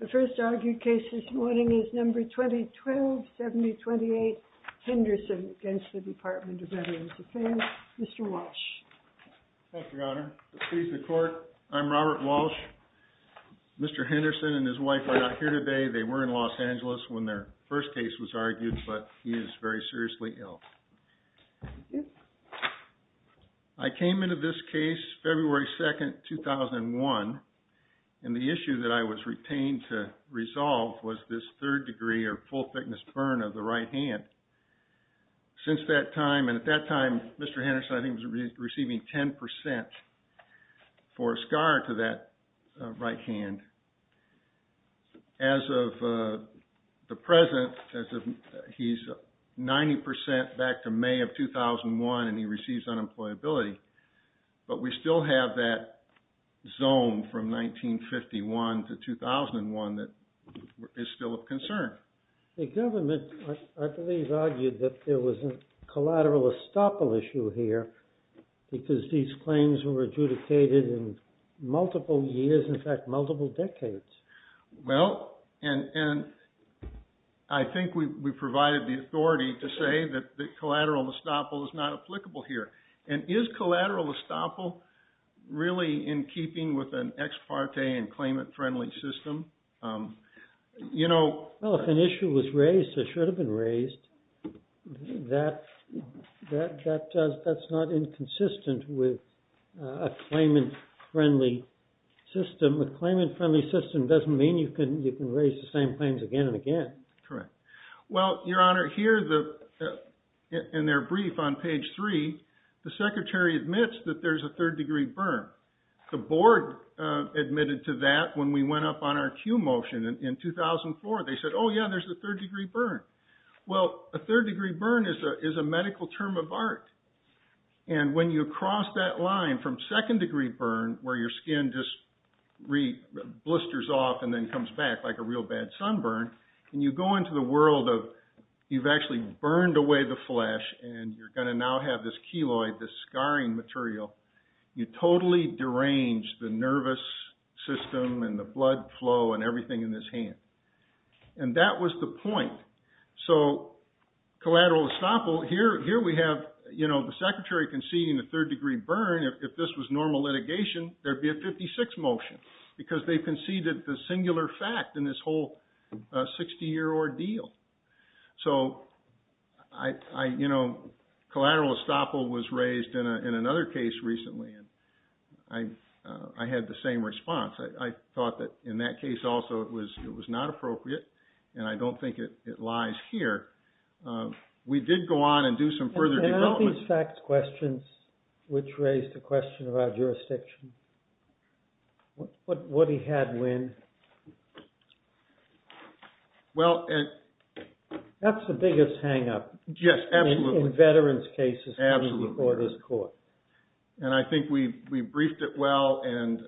The first argued case this morning is number 2012-7028, Henderson v. Department of Veterans Defense. Mr. Walsh. Robert Walsh, Jr. Thank you, Your Honor. I'm Robert Walsh. Mr. Henderson and his wife are not here today. They were in Los Angeles when their first case was argued, but he is very seriously ill. I came into this case February 2nd, 2001, and the issue that I was retained to resolve was this third degree or full thickness burn of the right hand. Since that time, and at that time, Mr. Henderson, I think, was receiving 10 percent for a scar to that right hand. And as of the present, he's 90 percent back to May of 2001, and he receives unemployability. But we still have that zone from 1951 to 2001 that is still of concern. The government, I believe, argued that there was a collateral estoppel issue here because these claims were adjudicated in multiple years, in fact, multiple decades. Well, and I think we provided the authority to say that the collateral estoppel is not applicable here. And is collateral estoppel really in keeping with an ex parte and claimant friendly system? Well, if an issue was raised that should have been raised, that's not inconsistent with a claimant friendly system. A claimant friendly system doesn't mean you can raise the same claims again and again. Correct. Well, Your Honor, here in their brief on page 3, the Secretary admits that there's a third degree burn. The board admitted to that when we went up on our cue motion in 2004. They said, oh yeah, there's a third degree burn. Well, a third degree burn is a medical term of art. And when you cross that line from second degree burn, where your skin just blisters off and then comes back like a real bad sunburn, and you go into the world of you've actually burned away the flesh, and you're going to now have this scarring material, you totally derange the nervous system and the blood flow and everything in this hand. And that was the point. So collateral estoppel, here we have the Secretary conceding the third degree burn. If this was normal litigation, there'd be a 56 motion because they conceded the singular fact in this whole 60 year ordeal. So collateral estoppel was raised in another case recently, and I had the same response. I thought that in that case also it was not appropriate, and I don't think it lies here. We did go on and do some further development. Are there any facts questions which raise the question about jurisdiction? What he had Well... That's the biggest hang up. Yes, absolutely. In veterans cases. Absolutely. Or this court. And I think we briefed it well, and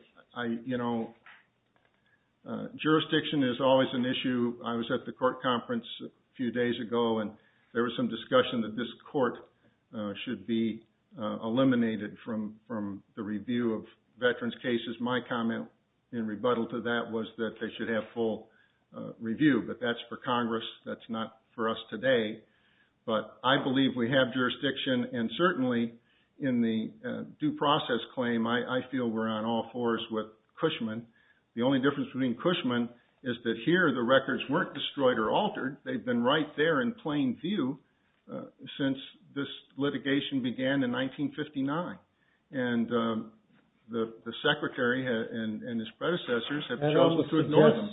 jurisdiction is always an issue. I was at the court conference a few days ago, and there was some discussion that this court should be eliminated from the review of veterans cases. My comment in rebuttal to that was that they should have full review, but that's for Congress. That's not for us today. But I believe we have jurisdiction, and certainly in the due process claim, I feel we're on all fours with Cushman. The only difference between Cushman is that here the records weren't destroyed or altered. They've been right there in plain view since this litigation began in 1959. And the secretary and his predecessors have chosen to ignore them.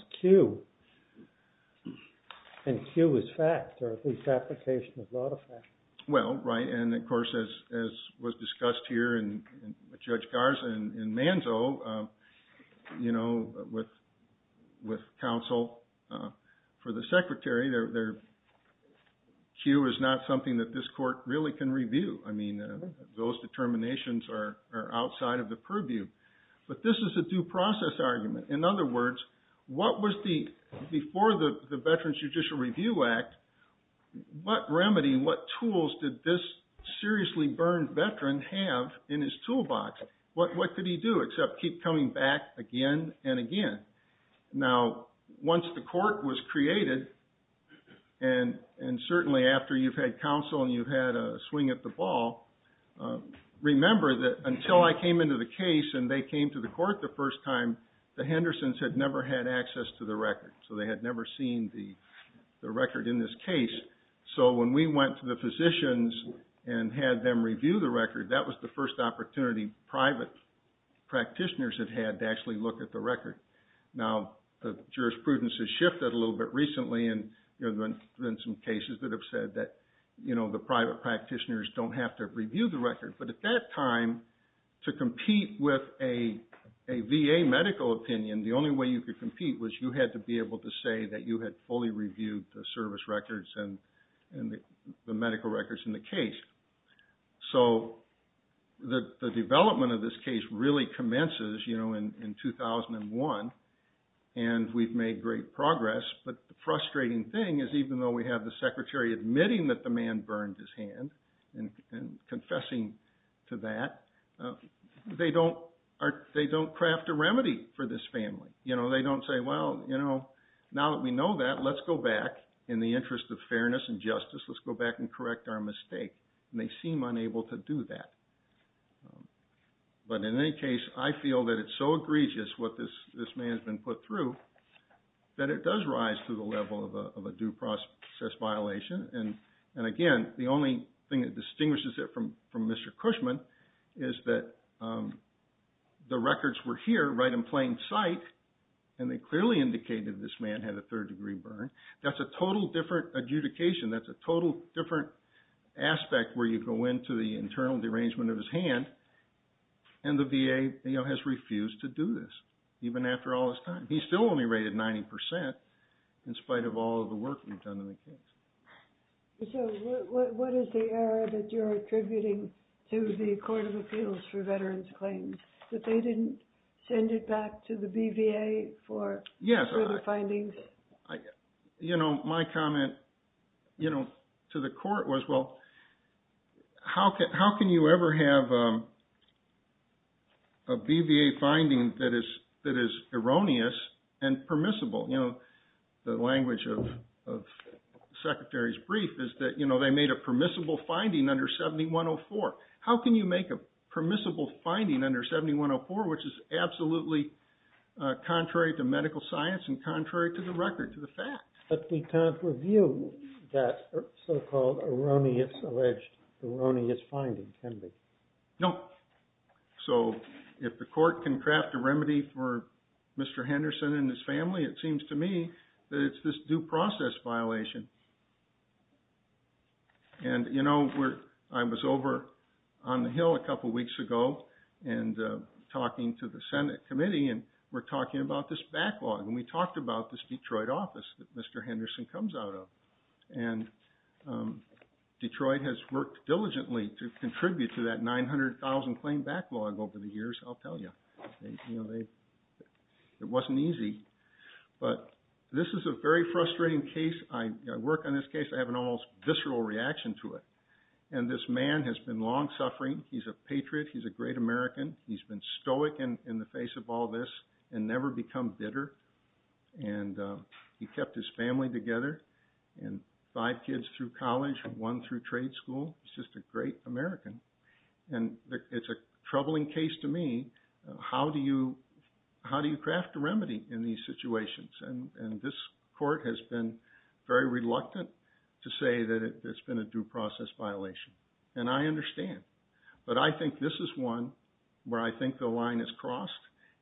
And Q is fact, or at least application of law to fact. Well, right, and of course as was discussed here with Judge Garza and Manzo, with counsel for the secretary, Q is not something that this court really can review. I mean, those determinations are outside of the purview. But this is a due process argument. In other words, what was the, before the Veterans Judicial Review Act, what remedy, what tools did this seriously burned veteran have in his toolbox? What could he do except keep coming back again and again? Now, once the court was created, and certainly after you've had counsel and you've had a swing at the ball, remember that until I came into the case and they came to the court the first time, the Hendersons had never had access to the record. So they had never seen the record in this case. So when we went to the physicians and had them review the record, that was the first opportunity private practitioners had had to actually look at the record. Now, the jurisprudence has shifted a little bit recently, and there have been some cases that have said that, you know, the private practitioners don't have to review the record. But at that time, to compete with a VA medical opinion, the only way you could compete was you had to be able to say that you had fully reviewed the service records and the medical records in the case. So the development of this case really commences, you know, in 2001, and we've made great progress. But the frustrating thing is even though we have the secretary admitting that the man burned his hand and confessing to that, they don't craft a remedy for this family. You know, they don't say, well, you know, now that we know that, let's go back in the interest of fairness and justice, let's go back and correct our mistake. And they seem unable to do that. But in any case, I feel that it's so egregious what this man has been put through that it does rise to the level of a due process violation. And again, the only thing that distinguishes it from Mr. Cushman is that the records were here right in plain sight, and they clearly indicated this man had a third degree burn. That's a total different adjudication. That's a total different aspect where you go into the internal derangement of his hand, and the VA, you know, has refused to do this, even after all this time. He's still only rated 90% in spite of all of the work we've done in the case. So what is the error that you're attributing to the Court of Appeals for Veterans Claims, that they didn't send it back to the BVA for further findings? You know, my comment, you know, to the court was, well, how can you ever have a BVA finding that is erroneous and permissible? You know, the language of the Secretary's brief is that, you know, they made a permissible finding under 7104. How can you make a permissible finding under 7104, which is absolutely contrary to medical science and contrary to the record, to the fact? But we can't review that so-called erroneous, alleged erroneous finding, can we? Nope. So if the court can craft a remedy for Mr. Henderson and his family, it seems to me that it's this due process violation. And, you know, I was over on the Hill a couple weeks ago and talking to the Senate committee, and we're talking about this backlog, and we talked about this Detroit office that Mr. Henderson comes out of. And Detroit has worked diligently to get that 900,000 claim backlog over the years, I'll tell you. You know, it wasn't easy. But this is a very frustrating case. I work on this case, I have an almost visceral reaction to it. And this man has been long-suffering. He's a patriot. He's a great American. He's been stoic in the face of all this and never become bitter. And he kept his family together, and five kids through college, one through trade school. He's just a great American. And it's a troubling case to me. How do you craft a remedy in these situations? And this court has been very reluctant to say that it's been a due process violation. And I understand. But I think this is one where I think the line is crossed.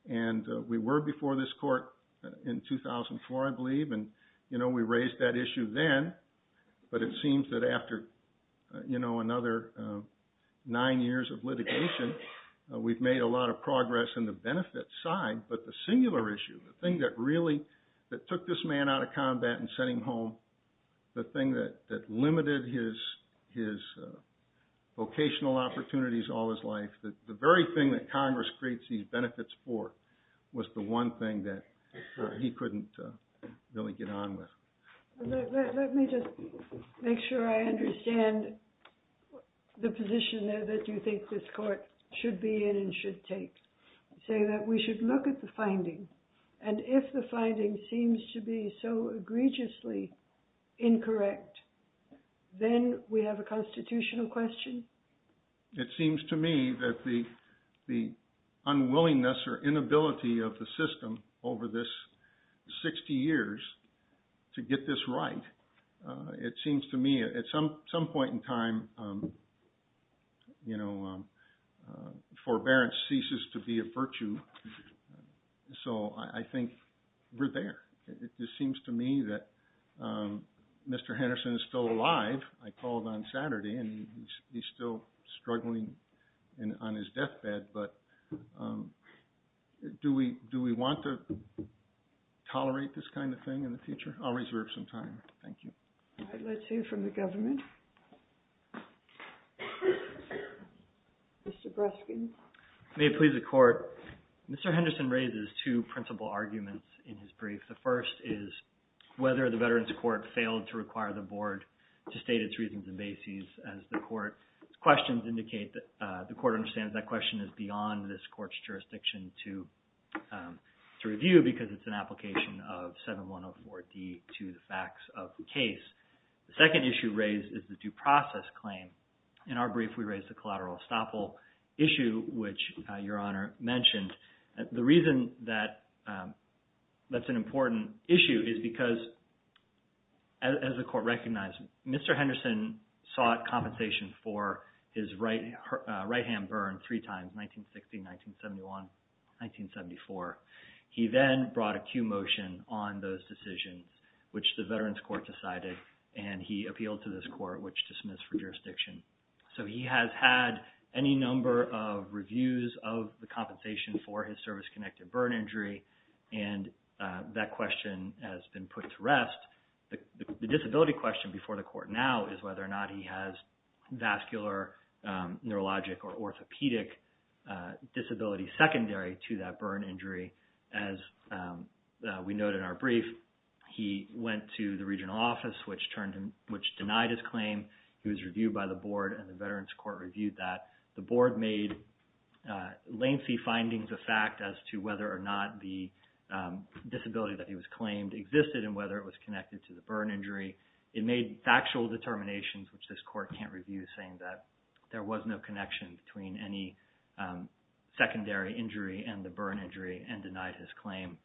And we were before this court in 2004, I believe, and, you know, we raised that issue then. But it seems that after, you know, another nine years of litigation, we've made a lot of progress in the benefit side. But the singular issue, the thing that really, that took this man out of combat and sent him home, the thing that limited his vocational opportunities all his life, the very thing that Congress creates these benefits for was the one thing that he couldn't really get on with. Let me just make sure I understand the position there that you think this court should be in and should take. You say that we should look at the finding. And if the finding seems to be so egregiously incorrect, then we have a constitutional question? It seems to me that the unwillingness or inability of the system over this 60 years to get this right, it seems to me at some point in time, you know, forbearance ceases to be a virtue. So I think we're there. It just seems to me that Mr. Henderson is still alive. I called on Saturday and he's still struggling on his deathbed. But do we want to tolerate this kind of thing in the future? I'll reserve some time. Thank you. All right. Let's hear from the government. Mr. Breskin. May it please the Court. Mr. Henderson raises two principal arguments in his brief. The first is whether the Veterans Court failed to require the Board to state its reasons and bases as the Court's questions indicate that the Court understands that question is beyond this Court's jurisdiction to review because it's an application of 7104D to the facts of the case. The second issue raised is the due process claim. In our brief, we raised the collateral estoppel issue, which Your Honor mentioned. The reason that that's an important issue is because, as the Court recognized, Mr. Henderson sought compensation for his right hand burn three times, 1960, 1971, 1974. He then brought a cue motion on those decisions, which the Veterans Court decided, and he appealed to this Court, which dismissed for jurisdiction. He has had any number of reviews of the compensation for his service-connected burn injury, and that question has been put to rest. The disability question before the Court now is whether or not he has vascular, neurologic, or orthopedic disability secondary to that burn injury. As we note in our brief, he went to the regional office, which denied his claim. He was reviewed by the Board, and the Veterans Court reviewed that. The Board made lengthy findings of fact as to whether or not the disability that he was claimed existed and whether it was connected to the burn injury. It made factual determinations, which this Court can't review, saying that there was no connection between any secondary injury and the burn injury and denied his claim.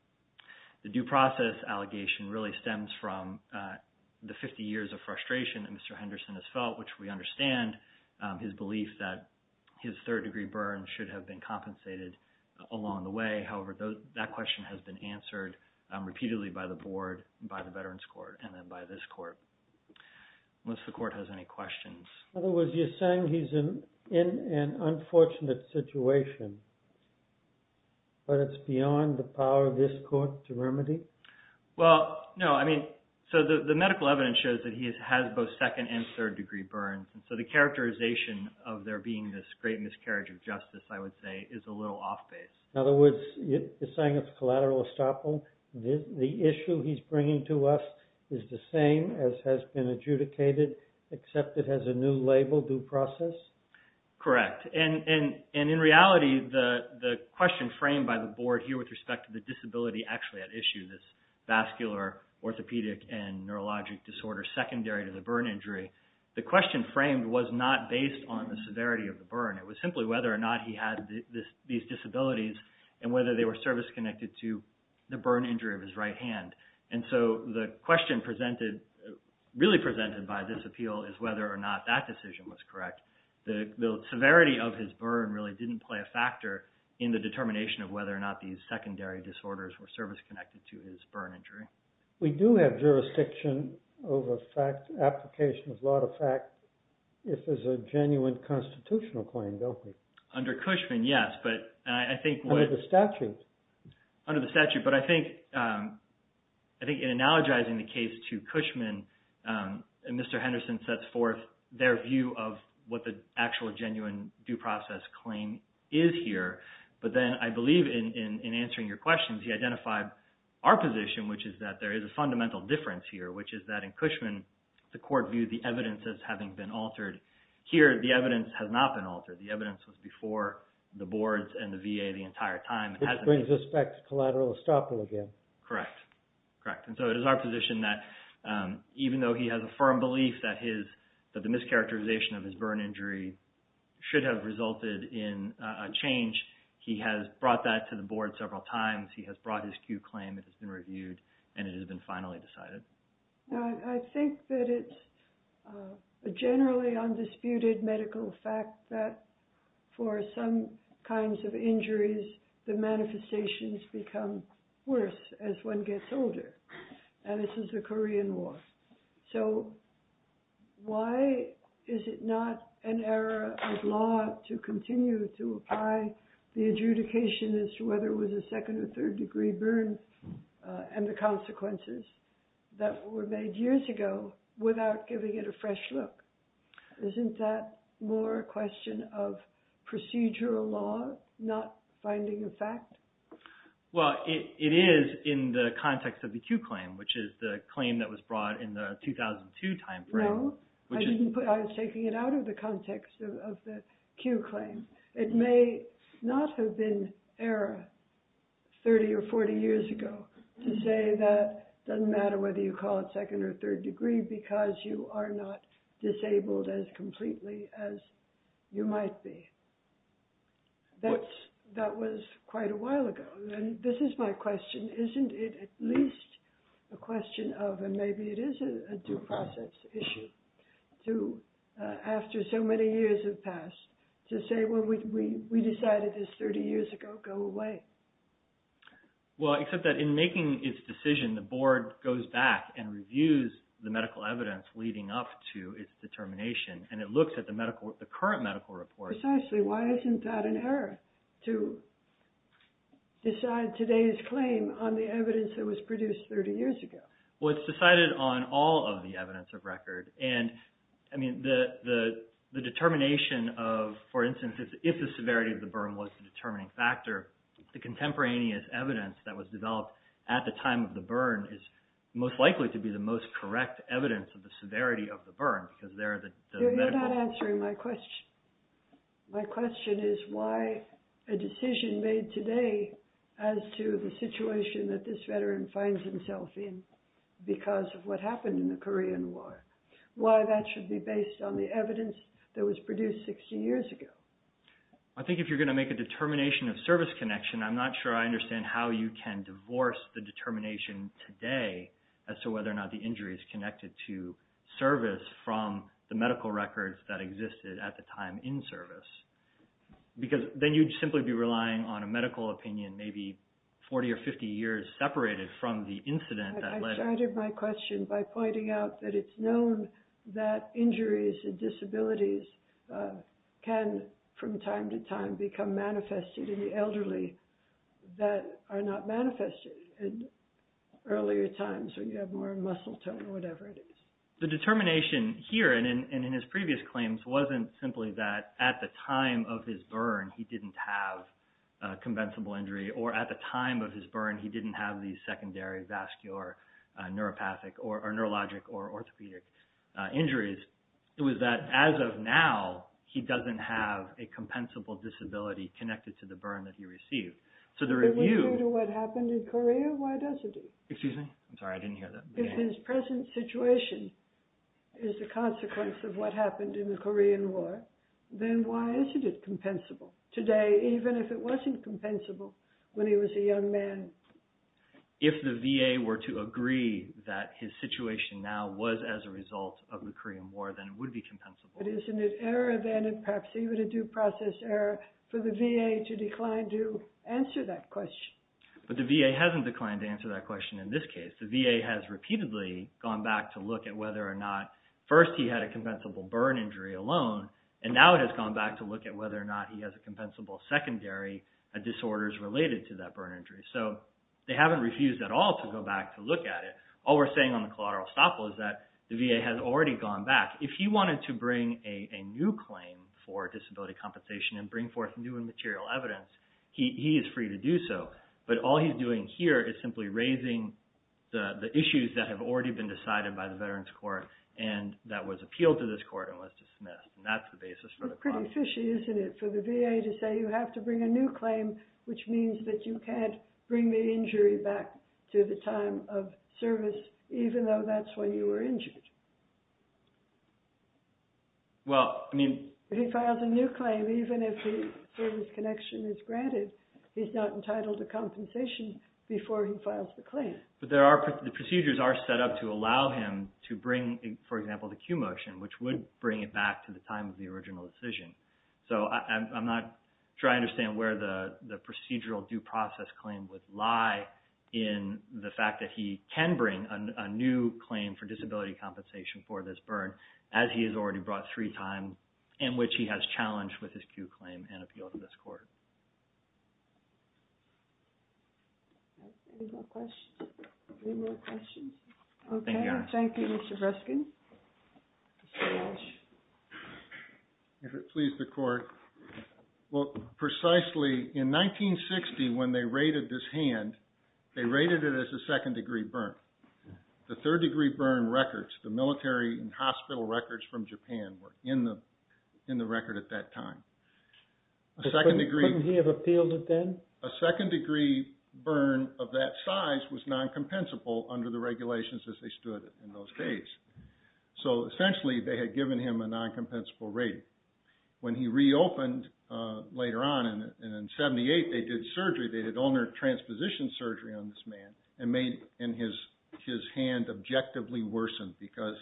The due process allegation really stems from the 50 years of frustration that Mr. Henderson has felt, which we understand his belief that his third-degree burn should have been compensated along the way. However, that question has been answered repeatedly by the Board, by the Veterans Court, and then by this Court. Unless the Court has any questions. In other words, you're saying he's in an unfortunate situation, but it's beyond the power of this Court to remedy? Well, no. I mean, so the medical evidence shows that he has both second- and third-degree burns, and so the characterization of there being this great miscarriage of justice, I would say, is a little off-base. In other words, you're saying it's collateral estoppel. The issue he's bringing to us is the same as has been adjudicated, except it has a new label, due process? Correct. And in reality, the question framed by the Board here with respect to the disability actually at issue, this vascular orthopedic and neurologic disorder secondary to the burn injury, the question framed was not based on the severity of the burn. It was simply whether or not he had these disabilities and whether they were service-connected to the burn injury of his right hand. And so the question presented, really presented by this appeal, is whether or not that decision was correct. The severity of his burn really didn't play a factor in the determination of whether or not these secondary disorders were service-connected to his burn injury. We do have jurisdiction over application of law to fact if there's a genuine constitutional claim, don't we? Under Cushman, yes. Under the statute. Under the statute, but I think in analogizing the case to Cushman, Mr. Henderson sets forth their view of what the actual genuine due process claim is here. But then I believe in answering your questions, he identified our position, which is that there is a fundamental difference here, which is that in Cushman, the court viewed the evidence as having been altered. Here, the evidence has not been altered. The evidence was before the Boards and the VA the entire time. Which brings us back to collateral estoppel again. Correct. Correct. It is our position that even though he has a firm belief that the mischaracterization of his burn injury should have resulted in a change, he has brought that to the Board several times. He has brought his Q claim. It has been reviewed, and it has been finally decided. I think that it's a generally undisputed medical fact that for some kinds of injuries, the manifestations become worse as one gets older. And this is the Korean War. So why is it not an era of law to continue to apply the adjudication as to whether it was a second or third degree burn and the consequences? That were made years ago without giving it a fresh look. Isn't that more a question of procedural law, not finding a fact? Well, it is in the context of the Q claim, which is the claim that was brought in the 2002 timeframe. No, I was taking it out of the context of the Q claim. It may not have been era 30 or 40 years ago to say that it doesn't matter whether you call it second or third degree because you are not disabled as completely as you might be. That was quite a while ago. And this is my question. Isn't it at least a question of, and maybe it is a due process issue, after so many years have passed, to say, well, we decided this 30 years ago, go away. Well, except that in making its decision, the board goes back and reviews the medical evidence leading up to its determination, and it looks at the current medical report. Precisely, why isn't that an error to decide today's claim on the evidence that was produced 30 years ago? Well, it's decided on all of the evidence of record, and the determination of, for instance, if the severity of the burn was the determining factor, the contemporaneous evidence that was developed at the time of the burn is most likely to be the most correct evidence of the severity of the burn. You're not answering my question. My question is why a decision made today as to the situation that this veteran finds himself in because of what happened in the Korean War. Why that should be based on the evidence that was produced 60 years ago. I think if you're going to make a determination of service connection, I'm not sure I understand how you can divorce the determination today as to whether or not the injury is connected to service from the medical records that existed at the time in service. Because then you'd simply be relying on a medical opinion maybe 40 or 50 years separated from the incident. I started my question by pointing out that it's known that injuries and disabilities can, from time to time, become manifested in the elderly that are not manifested in earlier times when you have more muscle tone or whatever it is. The determination here and in his previous claims wasn't simply that at the time of his burn he didn't have a convencible injury or at the time of his burn he didn't have these secondary vascular neuropathic or neurologic or orthopedic injuries. It was that as of now he doesn't have a compensable disability connected to the burn that he received. So the review... It wouldn't do to what happened in Korea? Why doesn't it? Excuse me? I'm sorry, I didn't hear that. If his present situation is a consequence of what happened in the Korean War, then why isn't it compensable? Today, even if it wasn't compensable when he was a young man. If the VA were to agree that his situation now was as a result of the Korean War, then it would be compensable. But isn't it error then and perhaps even a due process error for the VA to decline to answer that question? But the VA hasn't declined to answer that question in this case. The VA has repeatedly gone back to look at whether or not first he had a compensable burn injury alone and now it has gone back to look at whether or not he has a compensable secondary disorders related to that burn injury. So they haven't refused at all to go back to look at it. All we're saying on the collateral estoppel is that the VA has already gone back. If he wanted to bring a new claim for disability compensation and bring forth new and material evidence, he is free to do so. But all he's doing here is simply raising the issues that have already been decided by the Veterans Court and that was appealed to this court and was dismissed. That's the basis for the compensation. It's pretty fishy, isn't it, for the VA to say you have to bring a new claim, which means that you can't bring the injury back to the time of service even though that's when you were injured. Well, I mean... If he files a new claim, even if the service connection is granted, he's not entitled to compensation before he files the claim. But the procedures are set up to allow him to bring, for example, the Q motion, which would bring it back to the time of the original decision. So I'm not sure I understand where the procedural due process claim would lie in the fact that he can bring a new claim for disability compensation for this burn as he has already brought three times in which he has challenged with his Q claim and appealed to this court. Any more questions? Any more questions? Okay. Thank you, Mr. Breskin. If it pleases the Court. Well, precisely in 1960 when they rated this hand, they rated it as a second-degree burn. The third-degree burn records, the military and hospital records from Japan were in the record at that time. Couldn't he have appealed it then? A second-degree burn of that size was non-compensable under the regulations as they stood in those days. So essentially they had given him a non-compensable rating. When he reopened later on in 1978, they did surgery. They did ulnar transposition surgery on this man and made his hand objectively worsen because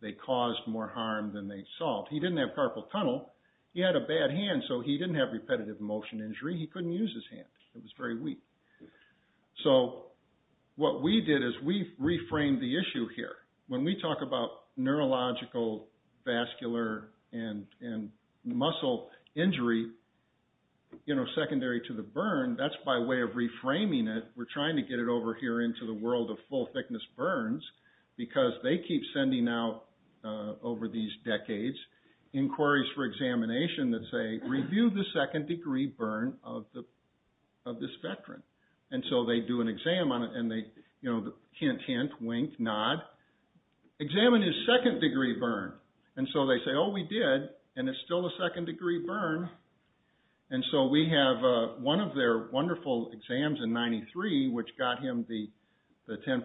they caused more harm than they solved. He didn't have carpal tunnel. He had a bad hand, so he didn't have repetitive motion injury. He couldn't use his hand. It was very weak. So what we did is we reframed the issue here. When we talk about neurological, vascular, and muscle injury secondary to the burn, that's by way of reframing it. We're trying to get it over here into the world of full-thickness burns because they keep sending out, over these decades, inquiries for examination that say, review the second-degree burn of this veteran. And so they do an exam on it, and they hint, hint, wink, nod, examine his second-degree burn. And so they say, oh, we did, and it's still a second-degree burn. And so we have one of their wonderful exams in 1993, which got him the 10%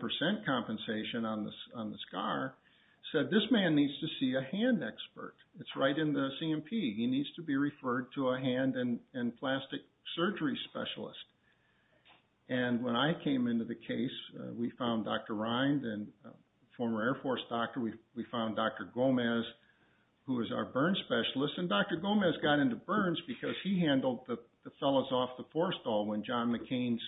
compensation on the scar, said this man needs to see a hand expert. It's right in the CMP. He needs to be referred to a hand and plastic surgery specialist. And when I came into the case, we found Dr. Rind, a former Air Force doctor. We found Dr. Gomez, who was our burn specialist. And Dr. Gomez got into burns because he handled the fellas off the forestall when John McCain's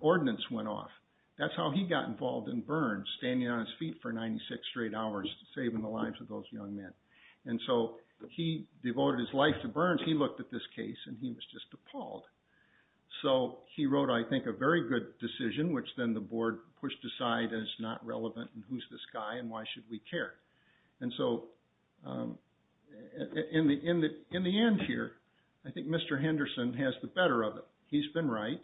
ordinance went off. That's how he got involved in burns, standing on his feet for 96 straight hours, saving the lives of those young men. And so he devoted his life to burns. He looked at this case, and he was just appalled. So he wrote, I think, a very good decision, which then the board pushed aside, and it's not relevant, and who's this guy, and why should we care? And so in the end here, I think Mr. Henderson has the better of it. He's been right.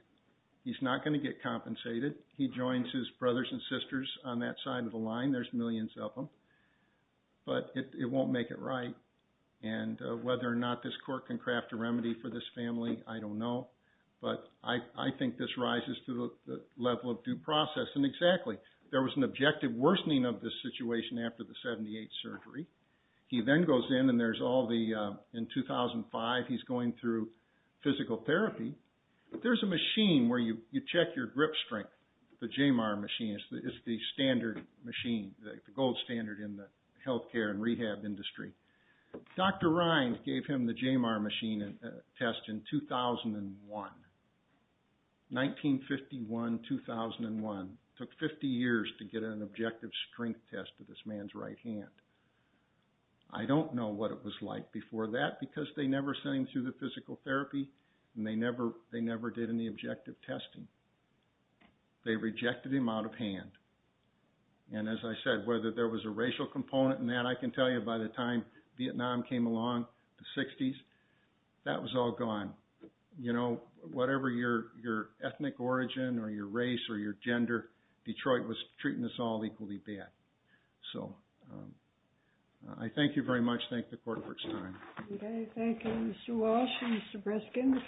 He's not going to get compensated. He joins his brothers and sisters on that side of the line. There's millions of them. But it won't make it right. And whether or not this court can craft a remedy for this family, I don't know. But I think this rises to the level of due process. And exactly, there was an objective worsening of this situation after the 78 surgery. He then goes in, and there's all the – in 2005, he's going through physical therapy. There's a machine where you check your grip strength, the JMR machine. It's the standard machine, the gold standard in the health care and rehab industry. Dr. Rind gave him the JMR machine test in 2001, 1951-2001. It took 50 years to get an objective strength test to this man's right hand. I don't know what it was like before that because they never sent him through the physical therapy, and they never did any objective testing. They rejected him out of hand. And as I said, whether there was a racial component in that, I can tell you by the time Vietnam came along, the 60s, that was all gone. You know, whatever your ethnic origin or your race or your gender, Detroit was treating us all equally bad. So I thank you very much. Thank the court for its time. Okay, thank you, Mr. Walsh and Mr. Breskin.